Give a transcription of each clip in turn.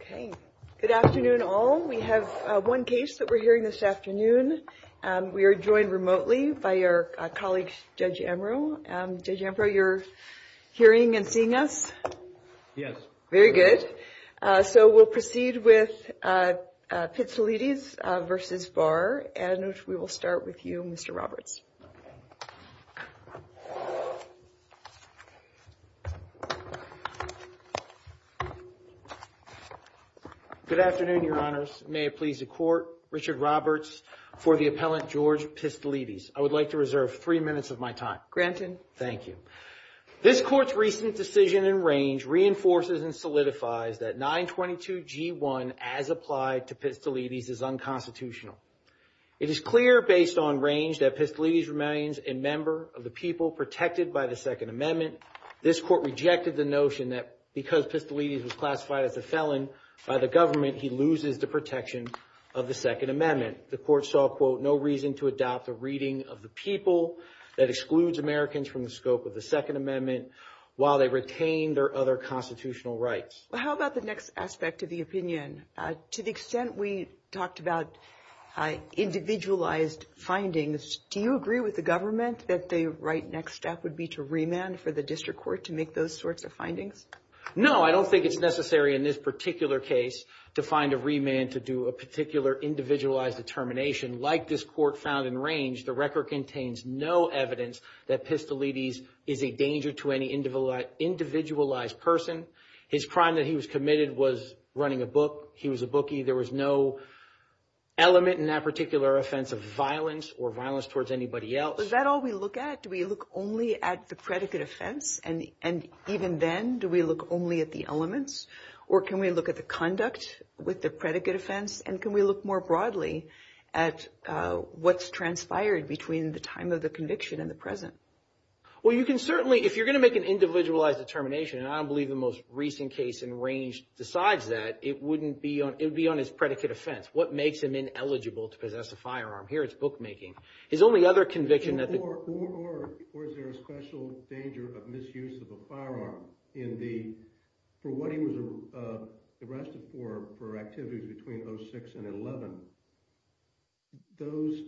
Okay. Good afternoon, all. We have one case that we're hearing this afternoon. We are joined remotely by our colleague, Judge Ambrose. Judge Ambrose, you're hearing and seeing us? Yes. Very good. So we'll proceed with Pitsilides v. Barr. And we will start with you, Mr. Roberts. Good afternoon, Your Honors. May it please the Court, Richard Roberts for the appellant, George Pitsilides. I would like to reserve three minutes of my time. Granted. Thank you. This Court's recent decision in range reinforces and solidifies that 922G1 as applied to Pitsilides is unconstitutional. It is clear based on range that Pitsilides remains a member of the people protected by the Second Amendment. This Court rejected the notion that because Pitsilides was classified as a felon by the government, he loses the protection of the Second Amendment. The Court saw, quote, no reason to adopt a reading of the people that excludes Americans from the scope of the Second Amendment while they retain their other constitutional rights. Well, how about the next aspect of the opinion? To the extent we talked about individualized findings, do you agree with the government that the right next step would be to remand for the district court to make those sorts of findings? No, I don't think it's necessary in this particular case to find a remand to do a particular individualized determination. Like this court found in range, the record contains no evidence that Pitsilides is a danger to any individualized person. His crime that he was committed was running a book. He was a bookie. There was no element in that particular offense of violence or violence towards anybody else. Is that all we look at? Do we look only at the predicate offense? And even then, do we look only at the elements? Or can we look at the conduct with the predicate offense? And can we look more broadly at what's transpired between the time of the conviction and the present? Well, you can certainly, if you're going to make an individualized determination, and I don't believe the most recent case in range decides that, it wouldn't be on, it would be on his predicate offense. What makes him ineligible to possess a firearm? Here it's bookmaking. His only other conviction that the – Or is there a special danger of misuse of a firearm in the – for what he was arrested for, for activities between 06 and 11? Those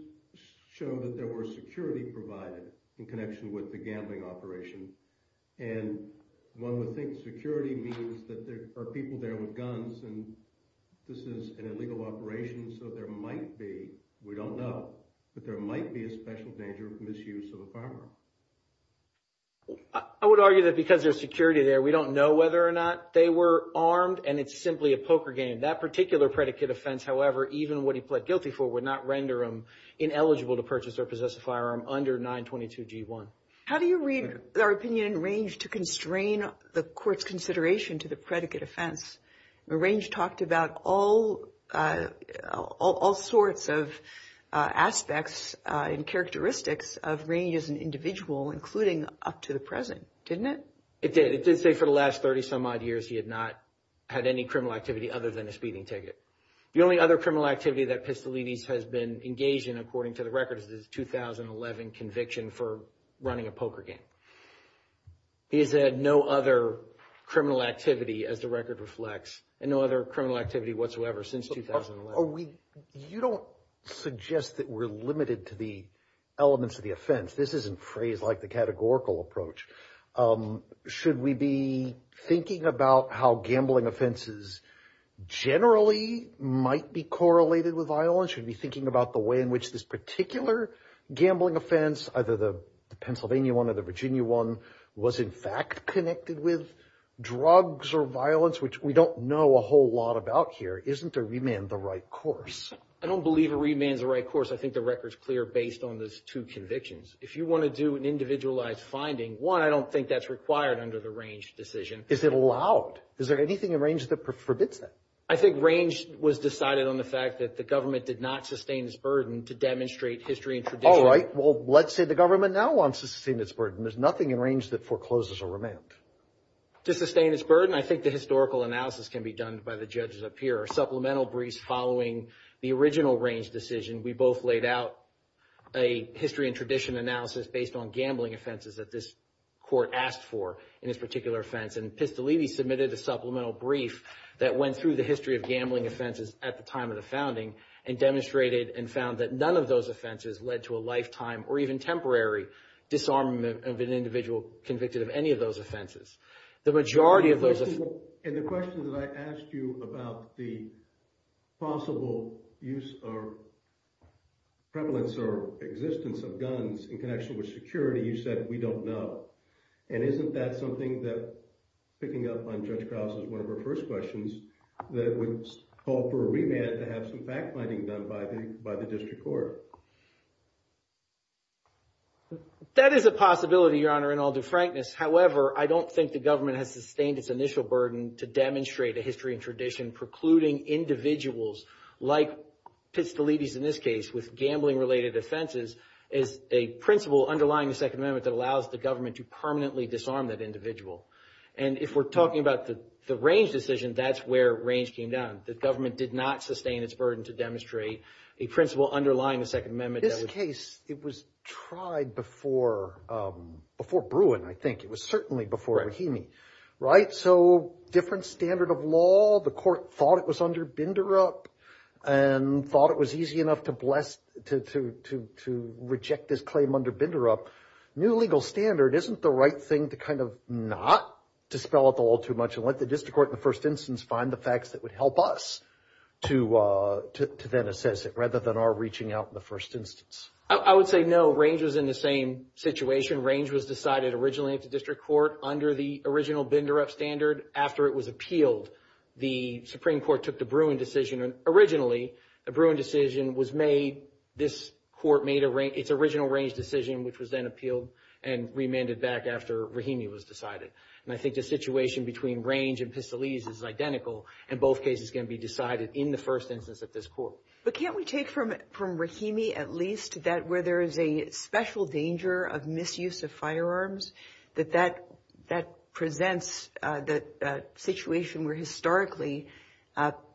show that there were security provided in connection with the gambling operation. And one would think security means that there are people there with guns and this is an illegal operation. So there might be, we don't know, but there might be a special danger of misuse of a firearm. I would argue that because there's security there, we don't know whether or not they were armed and it's simply a poker game. That particular predicate offense, however, even what he pled guilty for would not render him ineligible to purchase or possess a firearm under 922 G1. How do you read our opinion in range to constrain the court's consideration to the predicate offense? Range talked about all sorts of aspects and characteristics of range as an individual, including up to the present, didn't it? It did. It did say for the last 30 some odd years he had not had any criminal activity other than a speeding ticket. The only other criminal activity that Pistolides has been engaged in, according to the records, is his 2011 conviction for running a poker game. He has had no other criminal activity, as the record reflects, and no other criminal activity whatsoever since 2011. You don't suggest that we're limited to the elements of the offense. This isn't phrased like the categorical approach. Should we be thinking about how gambling offenses generally might be correlated with violence? Should we be thinking about the way in which this particular gambling offense, either the Pennsylvania one or the Virginia one, was in fact connected with drugs or violence, which we don't know a whole lot about here? Isn't a remand the right course? I don't believe a remand's the right course. I think the record's clear based on those two convictions. If you want to do an individualized finding, one, I don't think that's required under the range decision. Is it allowed? Is there anything in range that forbids that? I think range was decided on the fact that the government did not sustain its burden to demonstrate history and tradition. All right. Well, let's say the government now wants to sustain its burden. There's nothing in range that forecloses a remand. To sustain its burden, I think the historical analysis can be done by the judges up here. Supplemental briefs following the original range decision, we both laid out a history and tradition analysis based on gambling offenses that this court asked for in this particular offense. And Pistolini submitted a supplemental brief that went through the history of gambling offenses at the time of the founding and demonstrated and found that none of those offenses led to a lifetime or even temporary disarmament of an individual convicted of any of those offenses. The majority of those— And the question that I asked you about the possible use or prevalence or existence of guns in connection with security, you said we don't know. And isn't that something that, picking up on Judge Krause's one of her first questions, that it would call for a remand to have some fact-finding done by the district court? That is a possibility, Your Honor, and I'll do frankness. However, I don't think the government has sustained its initial burden to demonstrate a history and tradition precluding individuals like Pistolini's in this case with gambling-related offenses as a principle underlying the Second Amendment that allows the government to permanently disarm that individual. And if we're talking about the range decision, that's where range came down. The government did not sustain its burden to demonstrate a principle underlying the Second Amendment. In this case, it was tried before Bruin, I think. It was certainly before Rahimi, right? So different standard of law. The court thought it was under Binderup and thought it was easy enough to reject this claim under Binderup. So new legal standard, isn't the right thing to kind of not dispel it a little too much and let the district court in the first instance find the facts that would help us to then assess it rather than our reaching out in the first instance? I would say no. Range was in the same situation. Range was decided originally at the district court under the original Binderup standard. After it was appealed, the Supreme Court took the Bruin decision. Originally, the Bruin decision was made. This court made its original range decision, which was then appealed and remanded back after Rahimi was decided. And I think the situation between range and Pistolini's is identical, and both cases can be decided in the first instance at this court. But can't we take from Rahimi at least that where there is a special danger of misuse of firearms, that that presents the situation where historically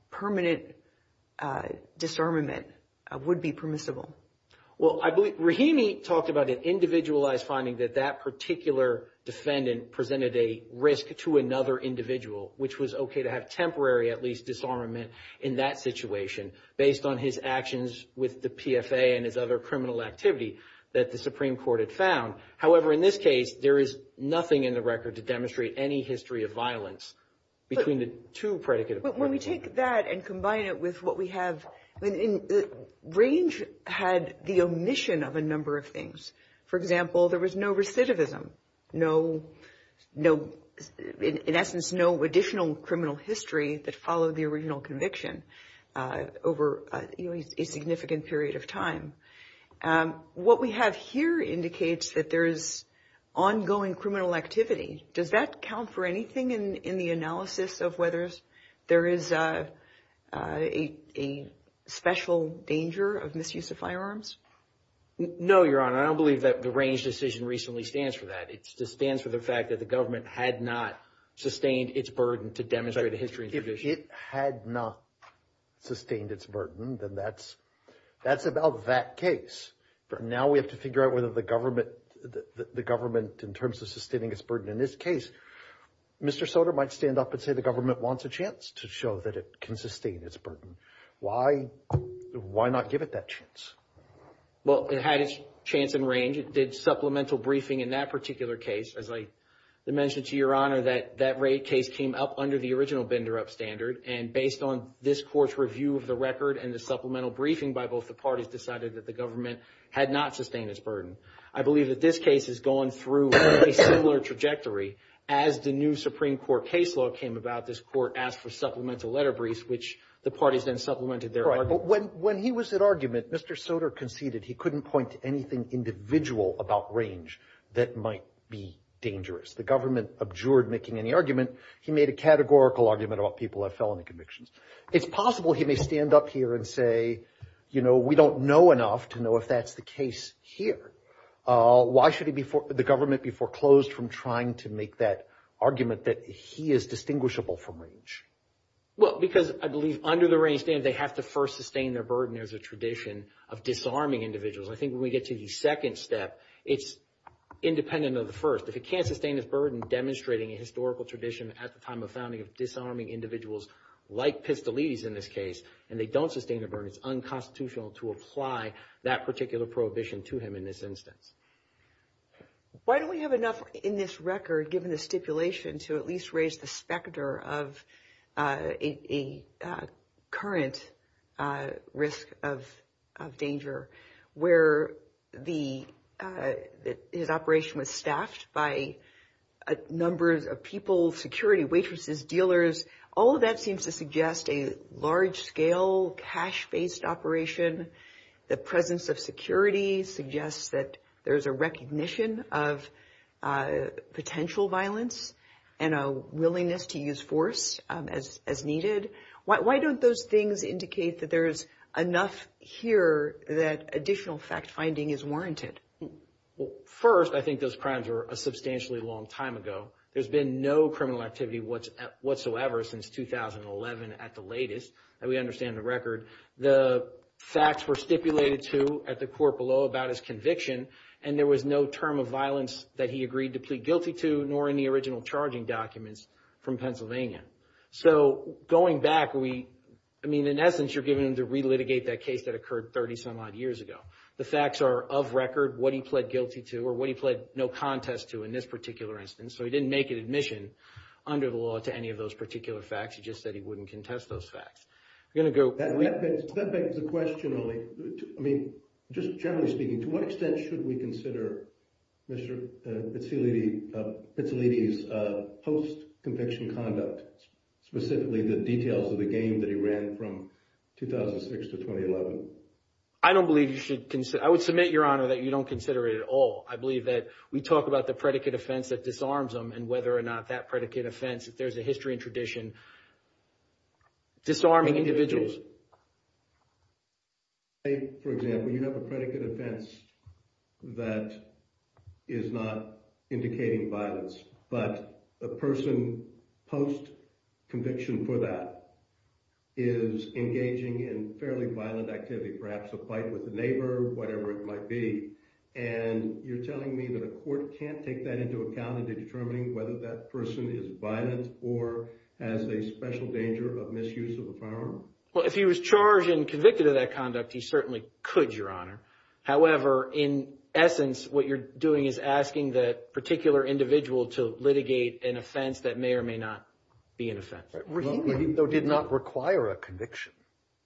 permanent disarmament would be permissible? Well, I believe Rahimi talked about an individualized finding that that particular defendant presented a risk to another individual, which was okay to have temporary at least disarmament in that situation based on his actions with the PFA and his other criminal activity that the Supreme Court had found. However, in this case, there is nothing in the record to demonstrate any history of violence between the two predicate appointments. When we take that and combine it with what we have, range had the omission of a number of things. For example, there was no recidivism, in essence, no additional criminal history that followed the original conviction over a significant period of time. What we have here indicates that there is ongoing criminal activity. Does that count for anything in the analysis of whether there is a special danger of misuse of firearms? No, Your Honor. I don't believe that the range decision recently stands for that. It just stands for the fact that the government had not sustained its burden to demonstrate a history of tradition. If it had not sustained its burden, then that's about that case. But now we have to figure out whether the government, in terms of sustaining its burden in this case, Mr. Soter might stand up and say the government wants a chance to show that it can sustain its burden. Why not give it that chance? Well, it had its chance in range. It did supplemental briefing in that particular case. As I mentioned to Your Honor, that rate case came up under the original Bender Up standard. And based on this Court's review of the record and the supplemental briefing by both the parties decided that the government had not sustained its burden. I believe that this case has gone through a similar trajectory. As the new Supreme Court case law came about, this Court asked for supplemental letter briefs, which the parties then supplemented their argument. But when he was at argument, Mr. Soter conceded he couldn't point to anything individual about range that might be dangerous. The government abjured making any argument. He made a categorical argument about people who have felony convictions. It's possible he may stand up here and say, you know, we don't know enough to know if that's the case here. Why should the government be foreclosed from trying to make that argument that he is distinguishable from range? Well, because I believe under the range standard, they have to first sustain their burden as a tradition of disarming individuals. I think when we get to the second step, it's independent of the first. If he can't sustain his burden demonstrating a historical tradition at the time of founding of disarming individuals like Pistolides in this case, and they don't sustain their burden, it's unconstitutional to apply that particular prohibition to him in this instance. Why don't we have enough in this record, given the stipulation, to at least raise the specter of a current risk of danger, where his operation was staffed by numbers of people, security, waitresses, dealers. All of that seems to suggest a large-scale cash-based operation. The presence of security suggests that there's a recognition of potential violence and a willingness to use force as needed. Why don't those things indicate that there's enough here that additional fact-finding is warranted? Well, first, I think those crimes were a substantially long time ago. There's been no criminal activity whatsoever since 2011 at the latest, and we understand the record. The facts were stipulated to at the court below about his conviction, and there was no term of violence that he agreed to plead guilty to, nor in the original charging documents from Pennsylvania. So going back, I mean, in essence, you're giving him to re-litigate that case that occurred 30-some-odd years ago. The facts are of record what he pled guilty to or what he pled no contest to in this particular instance, so he didn't make an admission under the law to any of those particular facts. He just said he wouldn't contest those facts. That begs the question, only, I mean, just generally speaking, to what extent should we consider Mr. Pizzolitti's post-conviction conduct, specifically the details of the game that he ran from 2006 to 2011? I don't believe you should consider – I would submit, Your Honor, that you don't consider it at all. I believe that we talk about the predicate offense that disarms him and whether or not that predicate offense, if there's a history and tradition, disarming individuals. For example, you have a predicate offense that is not indicating violence, but a person post-conviction for that is engaging in fairly violent activity, perhaps a fight with a neighbor, whatever it might be, and you're telling me that a court can't take that into account in determining whether that person is violent or has a special danger of misuse of a firearm? Well, if he was charged and convicted of that conduct, he certainly could, Your Honor. However, in essence, what you're doing is asking that particular individual to litigate an offense that may or may not be an offense. Rahimi, though, did not require a conviction.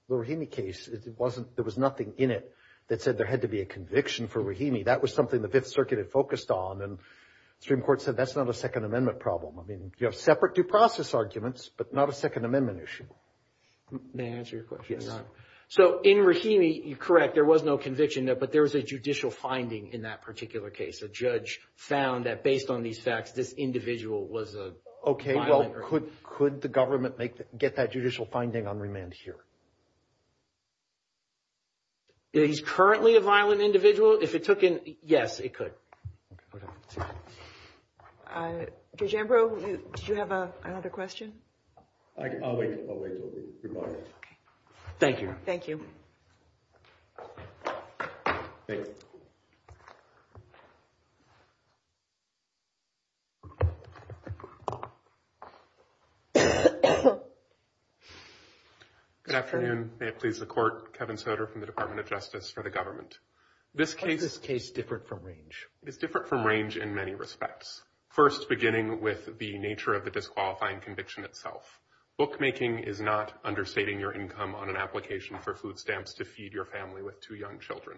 The Rahimi case, there was nothing in it that said there had to be a conviction for Rahimi. That was something the Fifth Circuit had focused on, and the Supreme Court said that's not a Second Amendment problem. I mean, you have separate due process arguments, but not a Second Amendment issue. May I answer your question, Your Honor? Yes. So in Rahimi, you're correct. There was no conviction, but there was a judicial finding in that particular case. A judge found that based on these facts, this individual was a violent— Okay, well, could the government get that judicial finding on remand here? He's currently a violent individual. If it took in—yes, it could. Judge Ambrose, did you have another question? I'll wait until we hear more. Okay. Thank you. Thank you. Good afternoon. May it please the Court. Kevin Soder from the Department of Justice for the government. Why is this case different from range? It's different from range in many respects. First, beginning with the nature of the disqualifying conviction itself. Bookmaking is not understating your income on an application for food stamps to feed your family with two young children.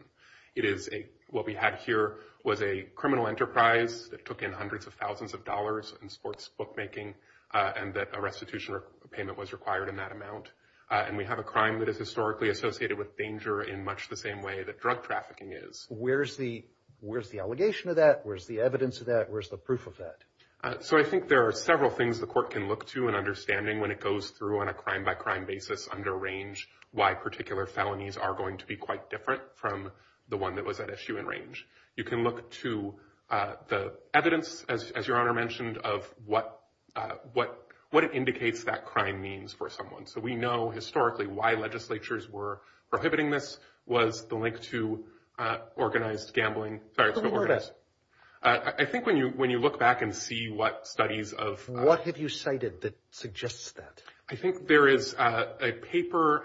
What we had here was a criminal enterprise that took in hundreds of thousands of dollars in sports bookmaking, and that a restitution payment was required in that amount. And we have a crime that is historically associated with danger in much the same way that drug trafficking is. Where's the allegation of that? Where's the evidence of that? Where's the proof of that? So I think there are several things the Court can look to in understanding, when it goes through on a crime-by-crime basis under range, why particular felonies are going to be quite different from the one that was at issue in range. You can look to the evidence, as Your Honor mentioned, of what it indicates that crime means for someone. So we know historically why legislatures were prohibiting this was the link to organized gambling. Who were they? I think when you look back and see what studies of- What have you cited that suggests that? I think there is a paper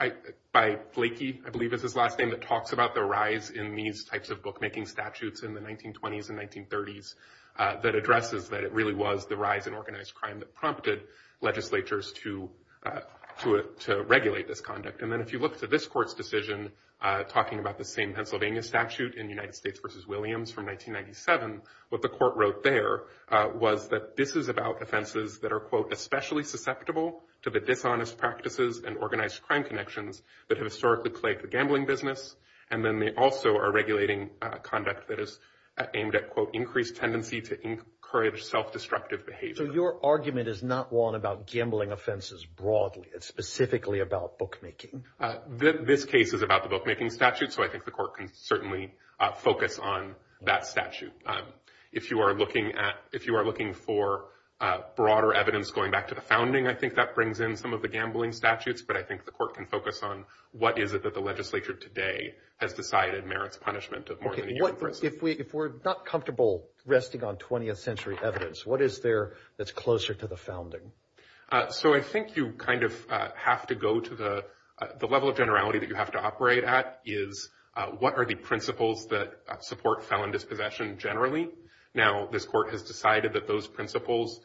by Blakey, I believe is his last name, that talks about the rise in these types of bookmaking statutes in the 1920s and 1930s that addresses that it really was the rise in organized crime that prompted legislatures to regulate this conduct. And then if you look to this Court's decision, talking about the same Pennsylvania statute in United States v. Williams from 1997, what the Court wrote there was that this is about offenses that are, quote, especially susceptible to the dishonest practices and organized crime connections that have historically plagued the gambling business. And then they also are regulating conduct that is aimed at, quote, increased tendency to encourage self-destructive behavior. So your argument is not one about gambling offenses broadly. It's specifically about bookmaking. This case is about the bookmaking statute. So I think the Court can certainly focus on that statute. If you are looking for broader evidence going back to the founding, I think that brings in some of the gambling statutes. But I think the Court can focus on what is it that the legislature today has decided merits punishment of more than a year in prison. If we're not comfortable resting on 20th century evidence, what is there that's closer to the founding? So I think you kind of have to go to the level of generality that you have to operate at is what are the principles that support felon dispossession generally? Now, this Court has decided that those principles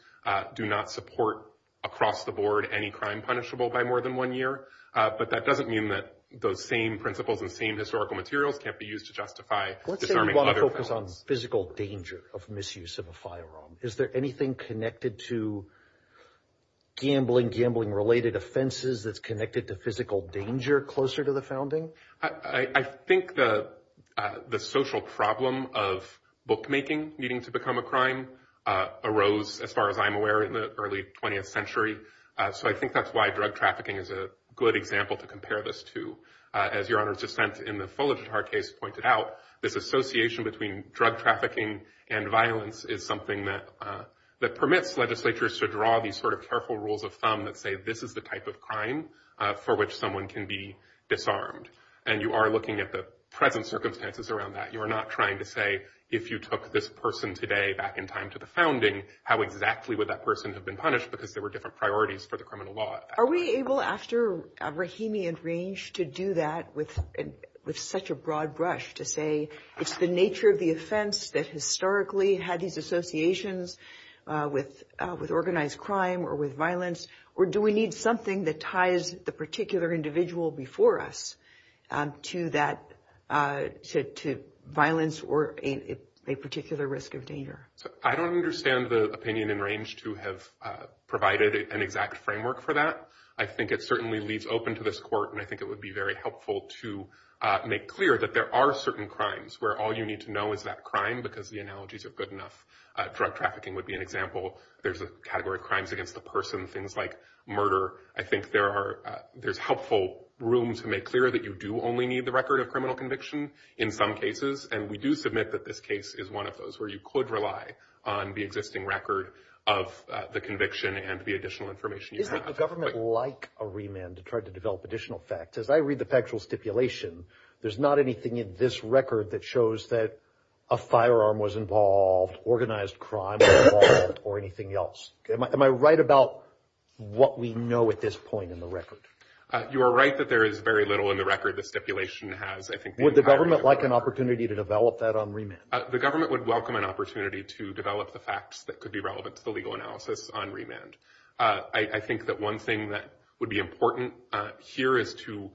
do not support across the board any crime punishable by more than one year. But that doesn't mean that those same principles and same historical materials can't be used to justify disarming other felons. Let's say you want to focus on physical danger of misuse of a firearm. Is there anything connected to gambling, gambling-related offenses that's connected to physical danger closer to the founding? I think the social problem of bookmaking needing to become a crime arose, as far as I'm aware, in the early 20th century. So I think that's why drug trafficking is a good example to compare this to. As Your Honor's dissent in the Fuller-Tatar case pointed out, this association between drug trafficking and violence is something that permits legislatures to draw these sort of careful rules of thumb that say this is the type of crime for which someone can be disarmed. And you are looking at the present circumstances around that. You are not trying to say, if you took this person today back in time to the founding, how exactly would that person have been punished because there were different priorities for the criminal law. Are we able, after Rahimi and Range, to do that with such a broad brush, to say it's the nature of the offense that historically had these associations with organized crime or with violence? Or do we need something that ties the particular individual before us to violence or a particular risk of danger? I don't understand the opinion in Range to have provided an exact framework for that. I think it certainly leaves open to this court, and I think it would be very helpful to make clear that there are certain crimes where all you need to know is that crime, because the analogies are good enough. Drug trafficking would be an example. There's a category of crimes against the person, things like murder. I think there's helpful room to make clear that you do only need the record of criminal conviction in some cases. And we do submit that this case is one of those where you could rely on the existing record of the conviction and the additional information you have. The government would like a remand to try to develop additional facts. As I read the factual stipulation, there's not anything in this record that shows that a firearm was involved, organized crime was involved, or anything else. Am I right about what we know at this point in the record? You are right that there is very little in the record the stipulation has, I think. Would the government like an opportunity to develop that on remand? The government would welcome an opportunity to develop the facts that could be relevant to the legal analysis on remand. I think that one thing that would be important here is to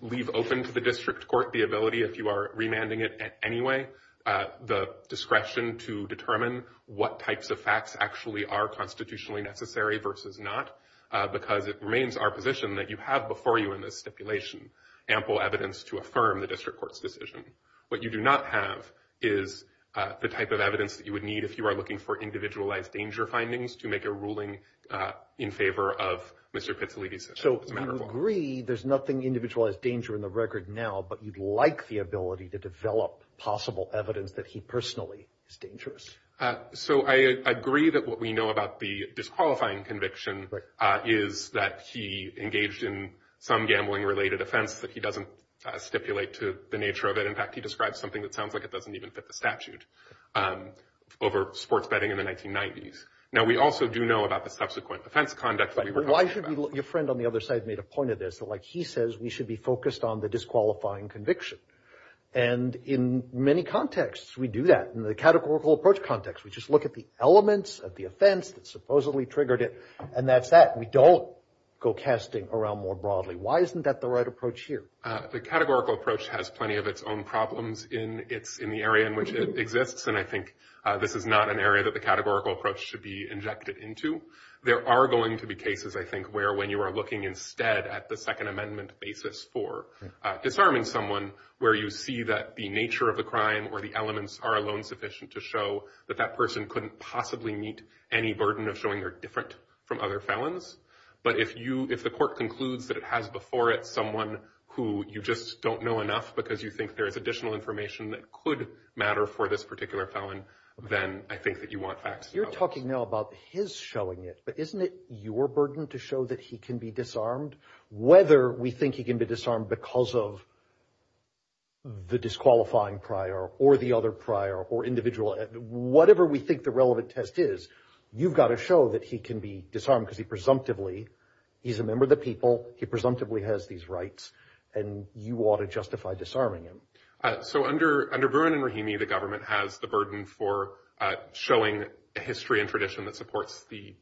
leave open to the district court the ability, if you are remanding it anyway, the discretion to determine what types of facts actually are constitutionally necessary versus not, because it remains our position that you have before you in this stipulation ample evidence to affirm the district court's decision. What you do not have is the type of evidence that you would need if you are looking for individualized danger findings to make a ruling in favor of Mr. Pizzolitti's. So you agree there's nothing individualized danger in the record now, but you'd like the ability to develop possible evidence that he personally is dangerous. So I agree that what we know about the disqualifying conviction is that he engaged in some gambling-related offense, that he doesn't stipulate to the nature of it. In fact, he describes something that sounds like it doesn't even fit the statute over sports betting in the 1990s. Now, we also do know about the subsequent offense conduct that we were talking about. But why should your friend on the other side made a point of this, that, like he says, we should be focused on the disqualifying conviction? And in many contexts, we do that. In the categorical approach context, we just look at the elements of the offense that supposedly triggered it, and that's that. We don't go casting around more broadly. Why isn't that the right approach here? The categorical approach has plenty of its own problems in the area in which it exists, and I think this is not an area that the categorical approach should be injected into. There are going to be cases, I think, where when you are looking instead at the Second Amendment basis for disarming someone, where you see that the nature of the crime or the elements are alone sufficient to show that that person couldn't possibly meet any burden of showing they're different from other felons. But if the court concludes that it has before it someone who you just don't know enough because you think there is additional information that could matter for this particular felon, then I think that you want facts. You're talking now about his showing it, but isn't it your burden to show that he can be disarmed? Whether we think he can be disarmed because of the disqualifying prior or the other prior or individual, whatever we think the relevant test is, you've got to show that he can be disarmed because he presumptively, he's a member of the people, he presumptively has these rights, and you ought to justify disarming him. So under Bruin and Rahimi, the government has the burden for showing history and tradition that supports the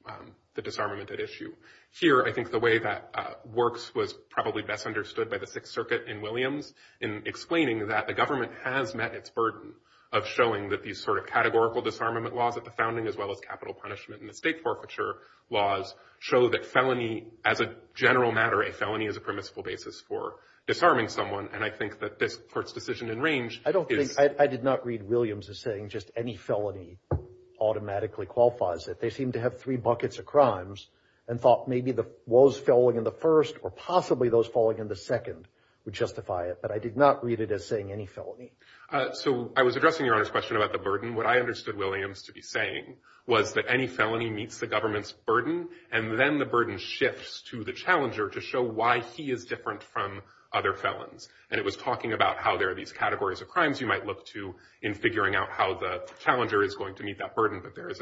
disarmament at issue. Here, I think the way that works was probably best understood by the Sixth Circuit in Williams in explaining that the government has met its burden of showing that these sort of categorical disarmament laws at the founding as well as capital punishment and the state forfeiture laws show that felony, as a general matter, a felony is a permissible basis for disarming someone, and I think that this court's decision in range is... I don't think, I did not read Williams as saying just any felony automatically qualifies it. They seem to have three buckets of crimes and thought maybe those falling in the first or possibly those falling in the second would justify it, but I did not read it as saying any felony. So I was addressing Your Honor's question about the burden. What I understood Williams to be saying was that any felony meets the government's burden, and then the burden shifts to the challenger to show why he is different from other felons, and it was talking about how there are these categories of crimes you might look to in figuring out how the challenger is going to meet that burden, but there is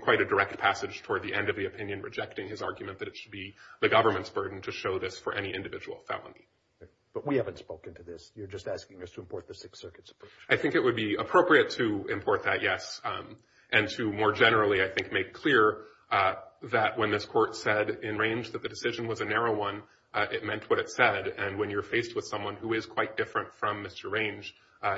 quite a direct passage toward the end of the opinion rejecting his argument that it should be the government's burden to show this for any individual felony. But we haven't spoken to this. You're just asking us to import the Sixth Circuit's approach. I think it would be appropriate to import that, yes, and to more generally, I think, make clear that when this court said in range that the decision was a narrow one, it meant what it said, and when you're faced with someone who is quite different from Mr. Range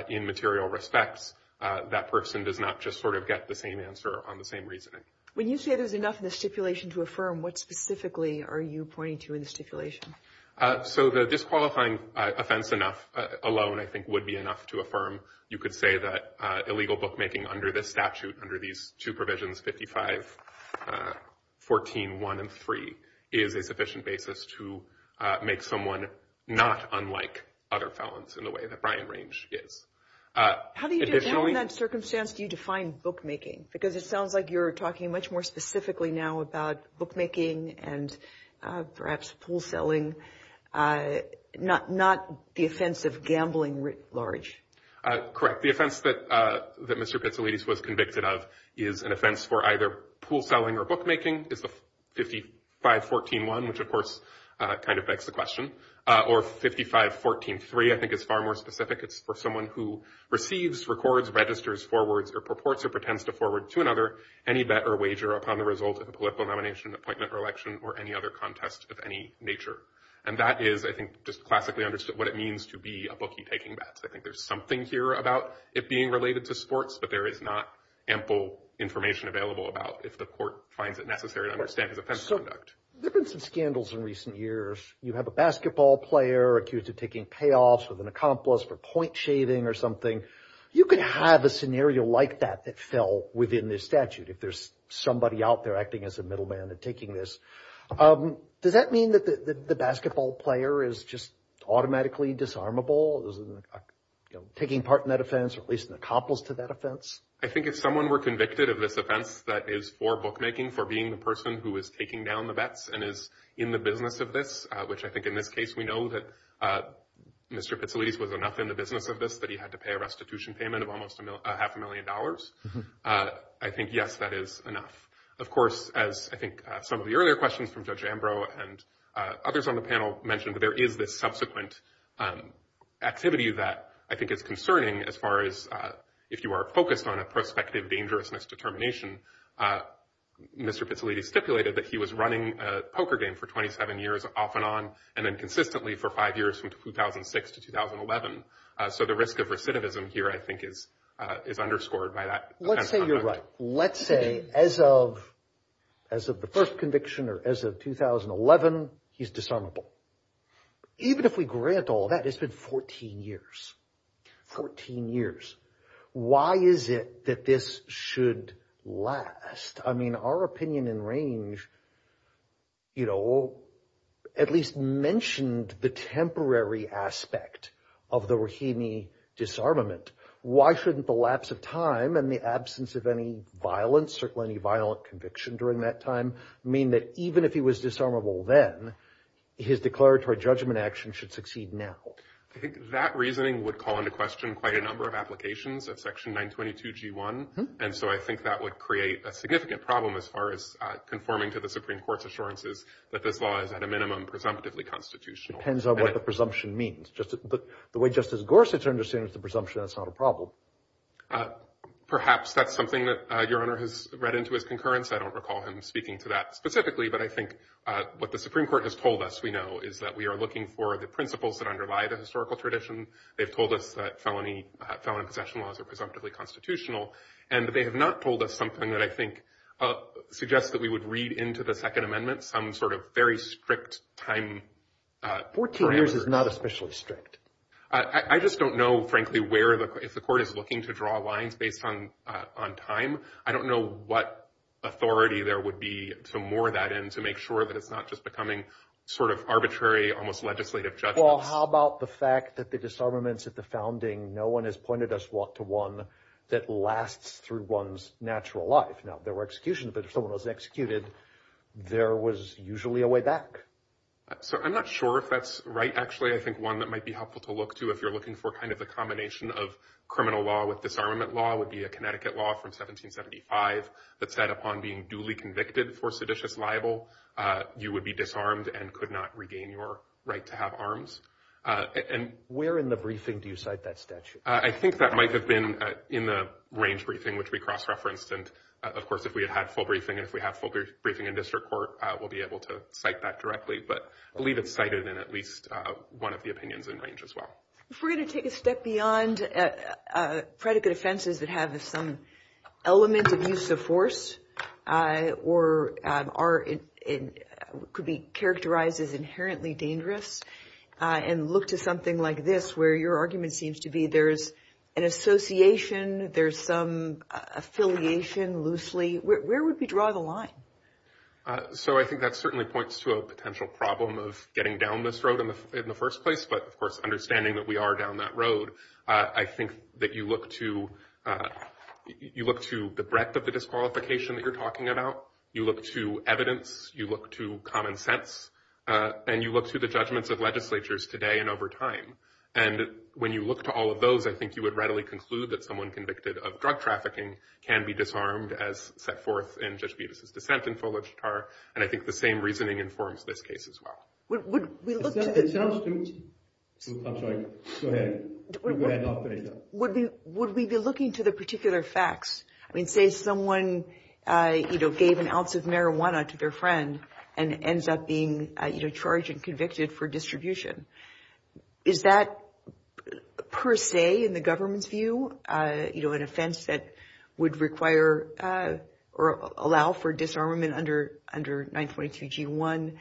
in material respects, that person does not just sort of get the same answer on the same reasoning. When you say there's enough in the stipulation to affirm, what specifically are you pointing to in the stipulation? So the disqualifying offense alone, I think, would be enough to affirm. You could say that illegal bookmaking under this statute, under these two provisions, 55, 14, 1, and 3, is a sufficient basis to make someone not unlike other felons in the way that Brian Range is. How do you define that circumstance? Do you define bookmaking? Because it sounds like you're talking much more specifically now about bookmaking and perhaps pool selling, not the offense of gambling writ large. Correct. The offense that Mr. Pitsalidis was convicted of is an offense for either pool selling or bookmaking, is the 55, 14, 1, which, of course, kind of begs the question, or 55, 14, 3. I think it's far more specific. It's for someone who receives, records, registers, forwards, or purports or pretends to forward to another any bet or wager upon the result of a political nomination, appointment, or election, or any other contest of any nature. And that is, I think, just classically understood what it means to be a bookie taking bets. I think there's something here about it being related to sports, but there is not ample information available about if the court finds it necessary to understand his offense conduct. There have been some scandals in recent years. You have a basketball player accused of taking payoffs with an accomplice for point shaving or something. You could have a scenario like that that fell within this statute, if there's somebody out there acting as a middleman and taking this. Does that mean that the basketball player is just automatically disarmable, is taking part in that offense or at least an accomplice to that offense? I think if someone were convicted of this offense that is for bookmaking, for being the person who is taking down the bets and is in the business of this, which I think in this case we know that Mr. Pizzolitti was enough in the business of this that he had to pay a restitution payment of almost half a million dollars. I think, yes, that is enough. Of course, as I think some of the earlier questions from Judge Ambrose and others on the panel mentioned, there is this subsequent activity that I think is concerning as far as if you are focused on a prospective dangerousness determination. Mr. Pizzolitti stipulated that he was running a poker game for 27 years off and on and then consistently for five years from 2006 to 2011. So the risk of recidivism here, I think, is underscored by that. Let's say you're right. Let's say as of as of the first conviction or as of 2011, he's disarmable. Even if we grant all that, it's been 14 years, 14 years. Why is it that this should last? I mean, our opinion in range, you know, at least mentioned the temporary aspect of the Rahimi disarmament. Why shouldn't the lapse of time and the absence of any violence or any violent conviction during that time mean that even if he was disarmable then, his declaratory judgment action should succeed now? I think that reasoning would call into question quite a number of applications of Section 922G1. And so I think that would create a significant problem as far as conforming to the Supreme Court's assurances that this law is at a minimum presumptively constitutional. Depends on what the presumption means. But the way Justice Gorsuch understands the presumption, that's not a problem. Perhaps that's something that Your Honor has read into his concurrence. I don't recall him speaking to that specifically. But I think what the Supreme Court has told us, we know, is that we are looking for the principles that underlie the historical tradition. They've told us that felony possession laws are presumptively constitutional. And they have not told us something that I think suggests that we would read into the Second Amendment some sort of very strict time parameters. Fourteen years is not especially strict. I just don't know, frankly, if the court is looking to draw lines based on time. I don't know what authority there would be to moor that in to make sure that it's not just becoming sort of arbitrary, almost legislative judgments. Well, how about the fact that the disarmaments at the founding, no one has pointed us to one that lasts through one's natural life. Now, there were executions, but if someone was executed, there was usually a way back. So I'm not sure if that's right, actually. I think one that might be helpful to look to, if you're looking for kind of a combination of criminal law with disarmament law, would be a Connecticut law from 1775 that said upon being duly convicted for seditious libel, you would be disarmed and could not regain your right to have arms. Where in the briefing do you cite that statute? I think that might have been in the range briefing, which we cross-referenced. And, of course, if we had had full briefing and if we had full briefing in district court, we'll be able to cite that directly. But I believe it's cited in at least one of the opinions in range as well. If we're going to take a step beyond predicate offenses that have some element of use of force or could be characterized as inherently dangerous and look to something like this, where your argument seems to be there's an association, there's some affiliation loosely, where would we draw the line? So I think that certainly points to a potential problem of getting down this road in the first place. But, of course, understanding that we are down that road, I think that you look to the breadth of the disqualification that you're talking about. You look to evidence, you look to common sense, and you look to the judgments of legislatures today and over time. And when you look to all of those, I think you would readily conclude that someone convicted of drug trafficking can be disarmed as set forth in Judge Beavis' dissent in Fulich Tar. And I think the same reasoning informs this case as well. Would we look to the- I'm sorry. Go ahead. Would we be looking to the particular facts? I mean, say someone gave an ounce of marijuana to their friend and ends up being charged and convicted for distribution. Is that, per se, in the government's view, you know, an offense that would require or allow for disarmament under 922G1?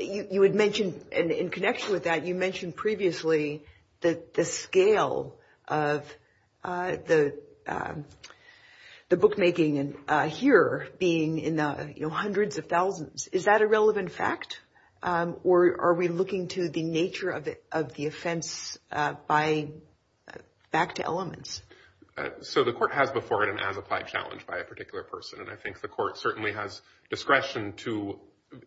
You had mentioned, in connection with that, you mentioned previously that the scale of the bookmaking here being in the hundreds of thousands. Is that a relevant fact, or are we looking to the nature of the offense by-back to elements? So the court has before it an as-applied challenge by a particular person, and I think the court certainly has discretion to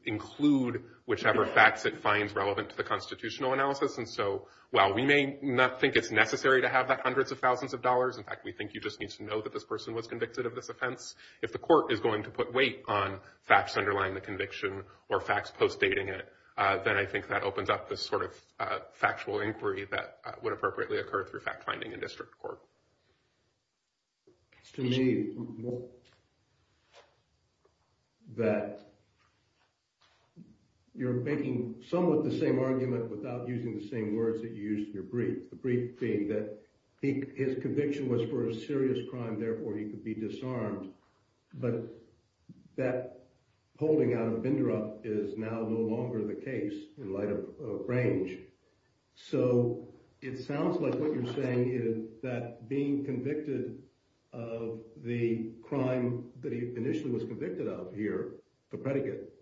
include whichever facts it finds relevant to the constitutional analysis. And so while we may not think it's necessary to have that hundreds of thousands of dollars-in fact, we think you just need to know that this person was convicted of this offense- if the court is going to put weight on facts underlying the conviction or facts post-dating it, then I think that opens up this sort of factual inquiry that would appropriately occur through fact-finding in district court. It's to me that you're making somewhat the same argument without using the same words that you used in your brief, the brief being that his conviction was for a serious crime, therefore he could be disarmed. But that holding out of Bindrup is now no longer the case in light of range. So it sounds like what you're saying is that being convicted of the crime that he initially was convicted of here, the predicate,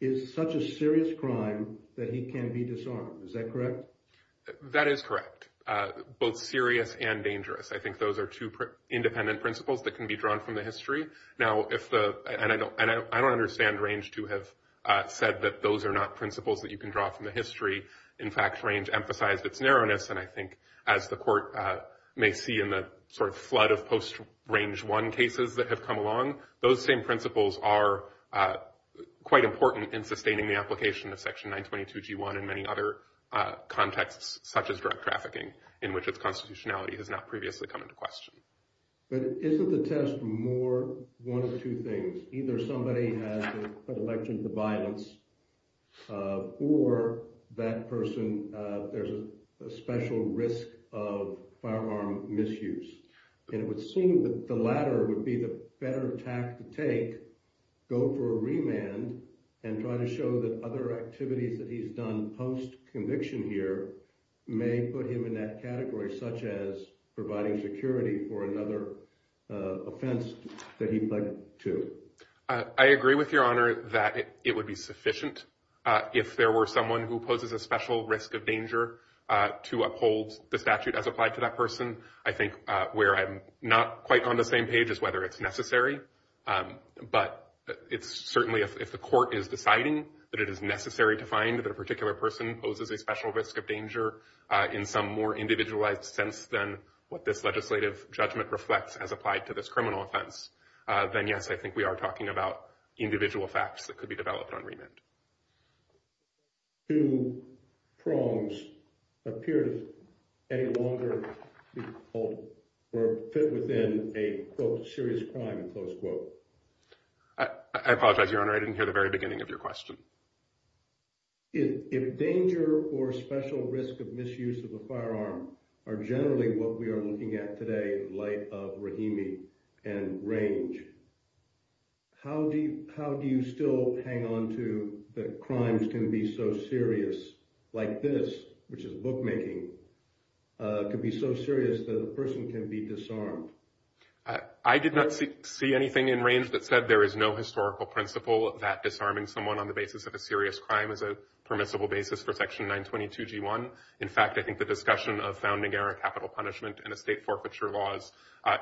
is such a serious crime that he can be disarmed. Is that correct? That is correct, both serious and dangerous. I think those are two independent principles that can be drawn from the history. Now, I don't understand range to have said that those are not principles that you can draw from the history. In fact, range emphasized its narrowness. And I think as the court may see in the sort of flood of post-range one cases that have come along, those same principles are quite important in sustaining the application of Section 922 G1 and many other contexts, such as drug trafficking, in which its constitutionality has not previously come into question. But isn't the test more one of two things? Either somebody has an election to violence or that person, there's a special risk of firearm misuse. And it would seem that the latter would be the better tact to take, go for a remand, and try to show that other activities that he's done post-conviction here may put him in that category, such as providing security for another offense that he pledged to. I agree with Your Honor that it would be sufficient if there were someone who poses a special risk of danger to uphold the statute as applied to that person. I think where I'm not quite on the same page as whether it's necessary, but it's certainly if the court is deciding that it is necessary to find that a particular person poses a special risk of danger in some more individualized sense than what this legislative judgment reflects as applied to this criminal offense, then, yes, I think we are talking about individual facts that could be developed on remand. Do prongs appear to any longer fit within a, quote, serious crime, close quote? I apologize, Your Honor, I didn't hear the very beginning of your question. If danger or special risk of misuse of a firearm are generally what we are looking at today in light of Rahimi and range, how do you still hang on to the crimes can be so serious like this, which is bookmaking, could be so serious that a person can be disarmed? I did not see anything in range that said there is no historical principle that disarming someone on the basis of a serious crime is a permissible basis for Section 922 G1. In fact, I think the discussion of founding capital punishment and estate forfeiture laws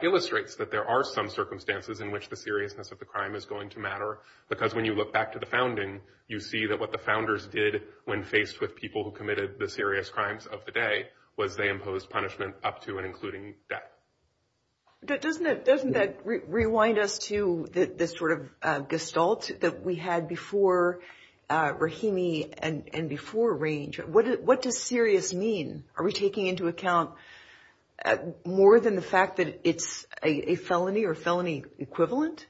illustrates that there are some circumstances in which the seriousness of the crime is going to matter, because when you look back to the founding, you see that what the founders did when faced with people who committed the serious crimes of the day was they imposed punishment up to and including death. Doesn't that rewind us to the sort of gestalt that we had before Rahimi and before range? What does serious mean? Are we taking into account more than the fact that it's a felony or felony equivalent?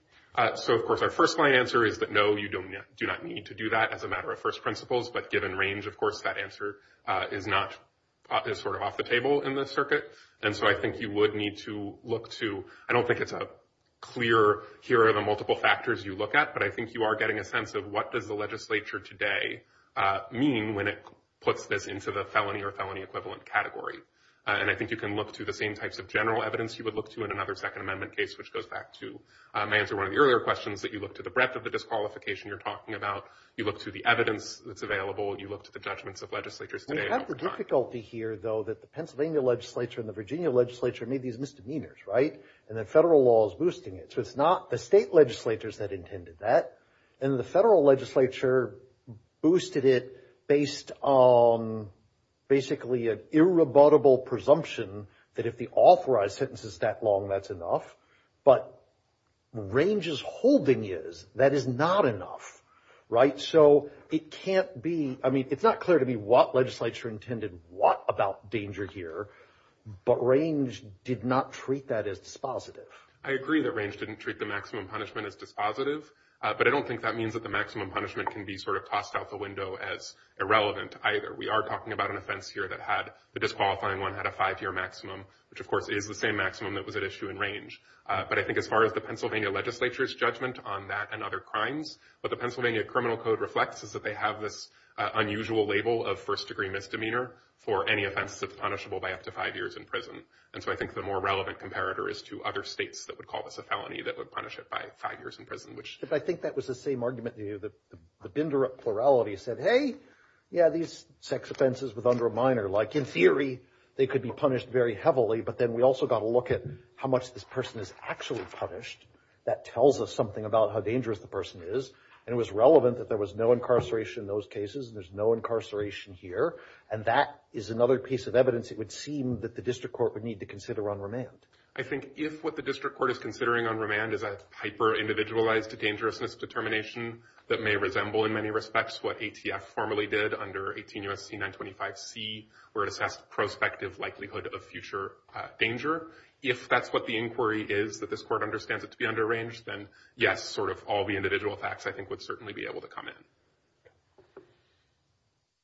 So, of course, our first line answer is that, no, you do not need to do that as a matter of first principles. But given range, of course, that answer is not sort of off the table in the circuit. And so I think you would need to look to I don't think it's a clear here are the multiple factors you look at. But I think you are getting a sense of what does the legislature today mean when it puts this into the felony or felony equivalent category? And I think you can look to the same types of general evidence you would look to in another Second Amendment case, which goes back to my answer one of the earlier questions that you look to the breadth of the disqualification you're talking about. You look to the evidence that's available. You look to the judgments of legislatures today. We have the difficulty here, though, that the Pennsylvania legislature and the Virginia legislature made these misdemeanors, right? And the federal law is boosting it. So it's not the state legislatures that intended that. And the federal legislature boosted it based on basically an irrebuttable presumption that if the authorized sentence is that long, that's enough. But Range's holding is that is not enough, right? So it can't be I mean, it's not clear to me what legislature intended what about danger here. But Range did not treat that as dispositive. I agree that Range didn't treat the maximum punishment as dispositive. But I don't think that means that the maximum punishment can be sort of tossed out the window as irrelevant either. We are talking about an offense here that had the disqualifying one had a five year maximum, which, of course, is the same maximum that was at issue in Range. But I think as far as the Pennsylvania legislature's judgment on that and other crimes, but the Pennsylvania criminal code reflects is that they have this unusual label of first degree misdemeanor for any offense punishable by up to five years in prison. And so I think the more relevant comparator is to other states that would call this a felony that would punish it by five years in prison, which I think that was the same argument. The binder plurality said, hey, yeah, these sex offenses with under a minor like in theory, they could be punished very heavily. But then we also got to look at how much this person is actually punished. That tells us something about how dangerous the person is. And it was relevant that there was no incarceration in those cases. There's no incarceration here. And that is another piece of evidence. It would seem that the district court would need to consider on remand. I think if what the district court is considering on remand is a hyper individualized to dangerousness determination that may resemble in many respects what ATF formally did under 18 U.S.C. 925 C where it assessed prospective likelihood of future danger. If that's what the inquiry is that this court understands it to be under range, then, yes, sort of all the individual facts I think would certainly be able to come in.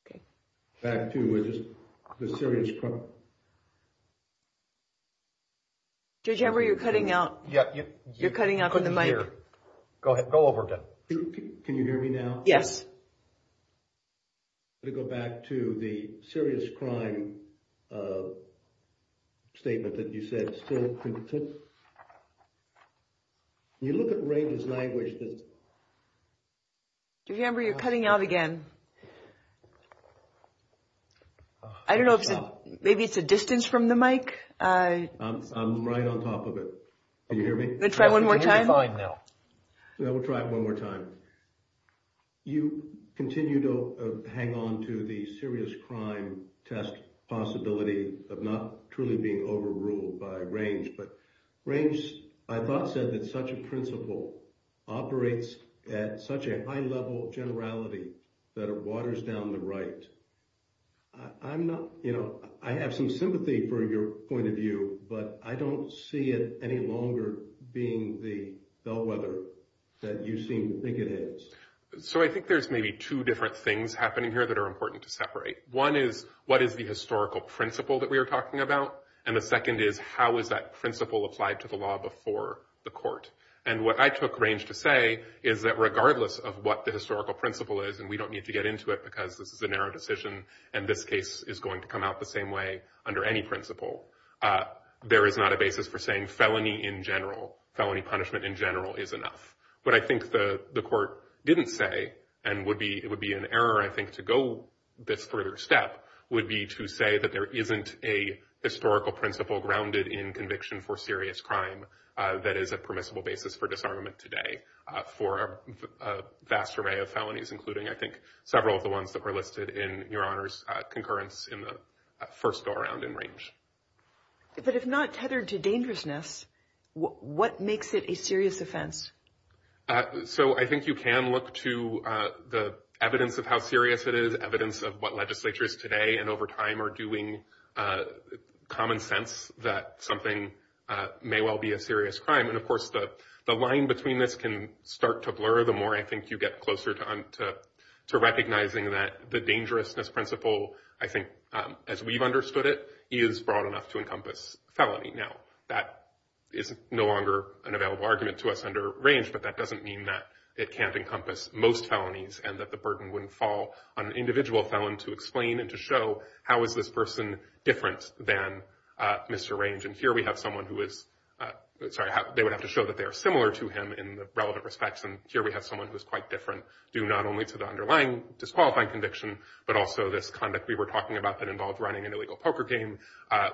OK, back to the serious. Did you ever you're cutting out? Yeah, you're cutting out the money here. Go ahead. Go over. Can you hear me now? Yes. To go back to the serious crime statement that you said. You look at Ray's language. Remember, you're cutting out again. I don't know if maybe it's a distance from the mic. I'm right on top of it. Can you hear me? Let's try one more time. We'll try it one more time. You continue to hang on to the serious crime test possibility of not truly being overruled by range. But range, I thought, said that such a principle operates at such a high level of generality that it waters down the right. I'm not you know, I have some sympathy for your point of view, but I don't see it any longer being the bellwether that you seem to think it is. So I think there's maybe two different things happening here that are important to separate. One is, what is the historical principle that we are talking about? And the second is, how is that principle applied to the law before the court? And what I took range to say is that regardless of what the historical principle is, and we don't need to get into it because this is a narrow decision. And this case is going to come out the same way under any principle. There is not a basis for saying felony in general. Felony punishment in general is enough. But I think the court didn't say and would be it would be an error, I think, to go this further step would be to say that there isn't a historical principle grounded in conviction for serious crime. That is a permissible basis for disarmament today for a vast array of felonies, including, I think, several of the ones that were listed in your honors concurrence in the first go around in range. But if not tethered to dangerousness, what makes it a serious offense? So I think you can look to the evidence of how serious it is, evidence of what legislatures today and over time are doing common sense that something may well be a serious crime. And, of course, the line between this can start to blur the more I think you get closer to recognizing that the dangerousness principle, I think, as we've understood it is broad enough to encompass felony. Now, that is no longer an available argument to us under range, but that doesn't mean that it can't encompass most felonies and that the burden wouldn't fall on an individual felon to explain and to show how is this person different than Mr. Range. And here we have someone who is sorry, they would have to show that they are similar to him in the relevant respects. And here we have someone who is quite different due not only to the underlying disqualifying conviction, but also this conduct we were talking about that involved running an illegal poker game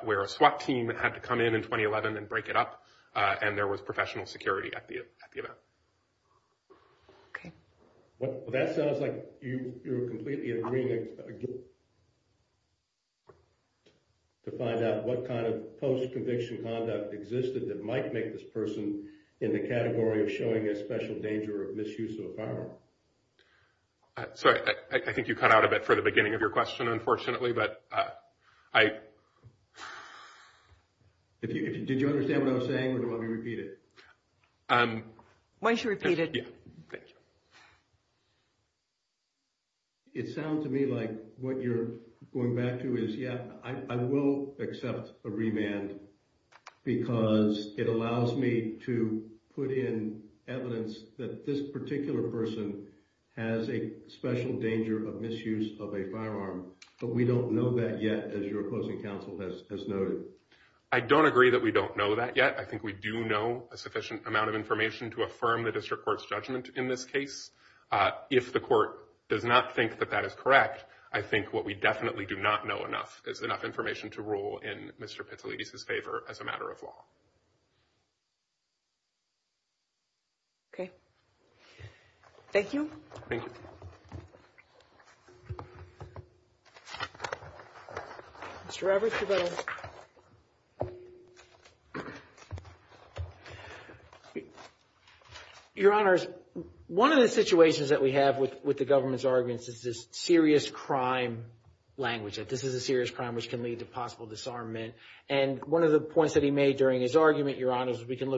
where a SWAT team had to come in in 2011 and break it up. And there was professional security at the at the event. OK, well, that sounds like you completely agree. To find out what kind of post conviction conduct existed that might make this person in the category of showing a special danger of misuse of power. So I think you cut out a bit for the beginning of your question, unfortunately, but I. If you did, you understand what I was saying. I don't agree that we don't know that yet. I think we do know a sufficient amount of information to affirm the district court's judgment in this case. If the court does not think that that is correct. I think what we definitely do not know enough is enough information to rule in Mr. Pizzolini's favor as a matter of law. OK. Thank you. Thank you. Mr. We can look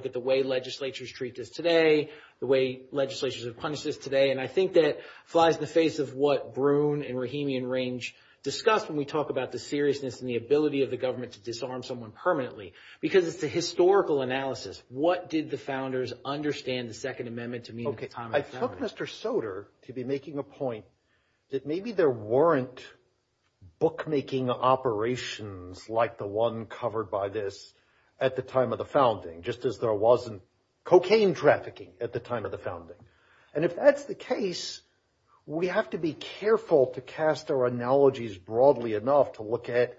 at the way legislatures treat this today, the way legislatures have punished this today. And I think that flies in the face of what Broon and Rahimi and Range discussed when we talk about the seriousness and the ability of the government to disarm someone permanently because it's a historical analysis. What did the founders understand? OK, I took Mr. Soter to be making a point that maybe there weren't bookmaking operations like the one covered by this at the time of the founding, just as there wasn't cocaine trafficking at the time of the founding. And if that's the case, we have to be careful to cast our analogies broadly enough to look at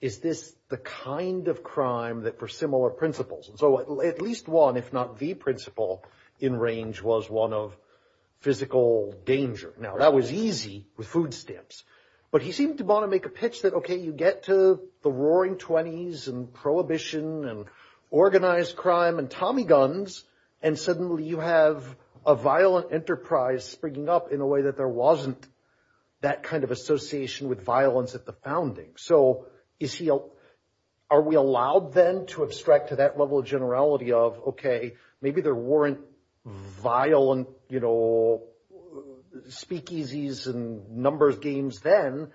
is this the kind of crime that for similar principles. So at least one, if not the principle in range, was one of physical danger. Now, that was easy with food stamps. But he seemed to want to make a pitch that, OK, you get to the roaring 20s and prohibition and organized crime and Tommy guns. And suddenly you have a violent enterprise springing up in a way that there wasn't that kind of association with violence at the founding. So, you see, are we allowed then to abstract to that level of generality of, OK, maybe there weren't violent, you know, speakeasies and numbers games then.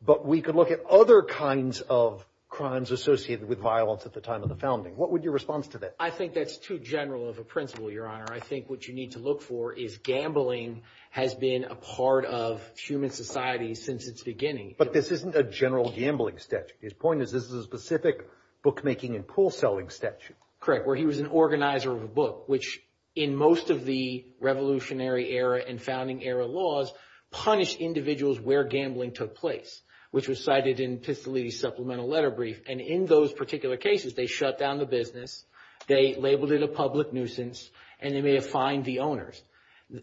But we could look at other kinds of crimes associated with violence at the time of the founding. What would your response to that? I think that's too general of a principle, Your Honor. I think what you need to look for is gambling has been a part of human society since its beginning. But this isn't a general gambling statute. His point is this is a specific bookmaking and pool selling statute. Correct, where he was an organizer of a book, which in most of the revolutionary era and founding era laws punished individuals where gambling took place, which was cited in Pistolini's supplemental letter brief. And in those particular cases, they shut down the business. They labeled it a public nuisance and they may have fined the owners.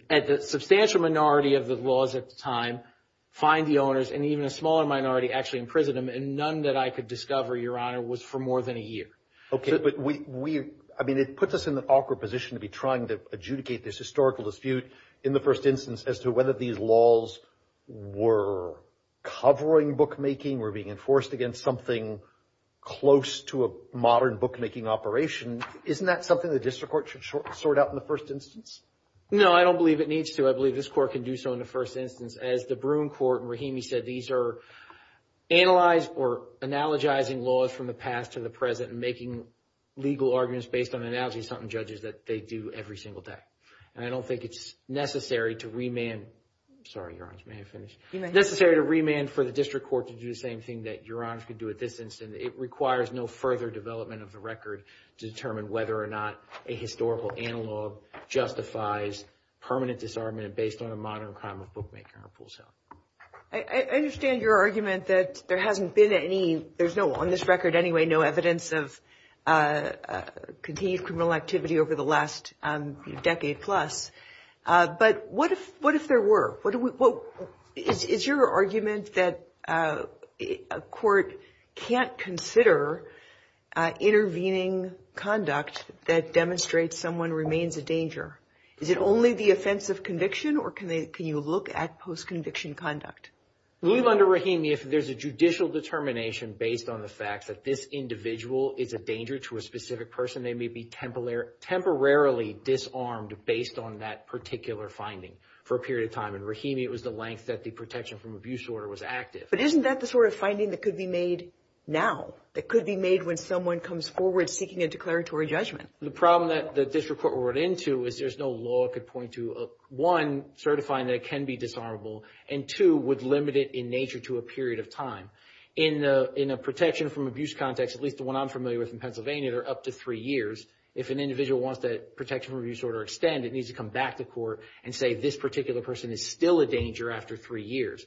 The substantial minority of the laws at the time fined the owners and even a smaller minority actually imprisoned them. And none that I could discover, Your Honor, was for more than a year. OK, but we I mean, it puts us in the awkward position to be trying to adjudicate this historical dispute in the first instance as to whether these laws were covering bookmaking or being enforced against something close to a modern bookmaking operation. Isn't that something the district court should sort out in the first instance? No, I don't believe it needs to. I believe this court can do so in the first instance. As the Broom Court and Rahimi said, these are analyzed or analogizing laws from the past to the present and making legal arguments based on the analogy of something judges that they do every single day. And I don't think it's necessary to remand. Sorry, Your Honor, may I finish? permanent disarmament based on a modern crime of bookmaking. I understand your argument that there hasn't been any. There's no on this record anyway, no evidence of continued criminal activity over the last decade plus. But what if what if there were? Is your argument that a court can't consider intervening conduct that demonstrates someone remains a danger? Is it only the offense of conviction or can they can you look at post-conviction conduct? Leave under Rahimi if there's a judicial determination based on the facts that this individual is a danger to a specific person. They may be temporarily disarmed based on that particular finding for a period of time. And Rahimi, it was the length that the protection from abuse order was active. But isn't that the sort of finding that could be made now that could be made when someone comes forward seeking a declaratory judgment? The problem that the district court wrote into is there's no law could point to one certifying that it can be disarmable and two would limit it in nature to a period of time. In a protection from abuse context, at least the one I'm familiar with in Pennsylvania, they're up to three years. If an individual wants that protection from abuse order extended, needs to come back to court and say this particular person is still a danger after three years.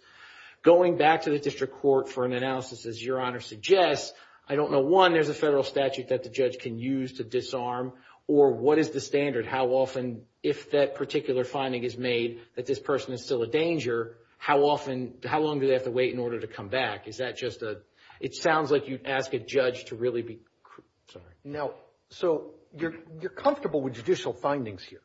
Going back to the district court for an analysis, as Your Honor suggests, I don't know. One, there's a federal statute that the judge can use to disarm, or what is the standard? How often, if that particular finding is made that this person is still a danger, how often, how long do they have to wait in order to come back? Is that just a, it sounds like you'd ask a judge to really be, sorry. No, so you're comfortable with judicial findings here.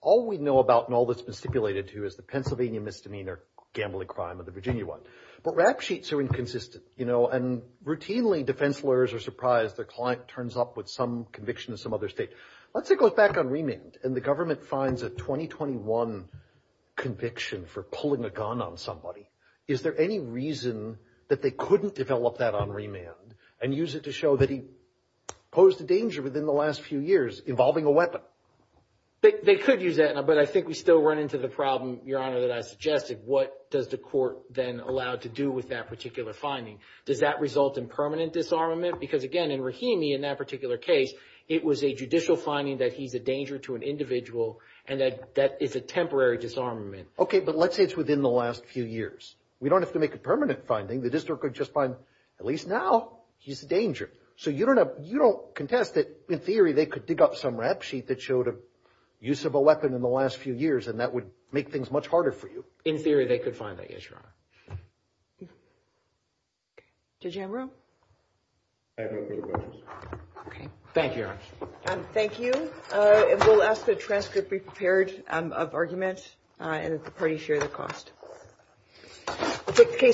All we know about and all that's been stipulated to is the Pennsylvania misdemeanor gambling crime of the Virginia one. But rap sheets are inconsistent, you know, and routinely defense lawyers are surprised their client turns up with some conviction in some other state. Let's say it goes back on remand and the government finds a 2021 conviction for pulling a gun on somebody. Is there any reason that they couldn't develop that on remand and use it to show that he posed a danger within the last few years involving a weapon? They could use that, but I think we still run into the problem, Your Honor, that I suggested. What does the court then allow to do with that particular finding? Does that result in permanent disarmament? Because, again, in Rahimi, in that particular case, it was a judicial finding that he's a danger to an individual and that that is a temporary disarmament. Okay, but let's say it's within the last few years. We don't have to make a permanent finding. The district could just find, at least now, he's a danger. So you don't have you don't contest it. In theory, they could dig up some rap sheet that showed a use of a weapon in the last few years, and that would make things much harder for you. In theory, they could find that. Yes, Your Honor. Jam room. Okay, thank you. Thank you. We'll ask the transcript be prepared of argument and the party share the cost.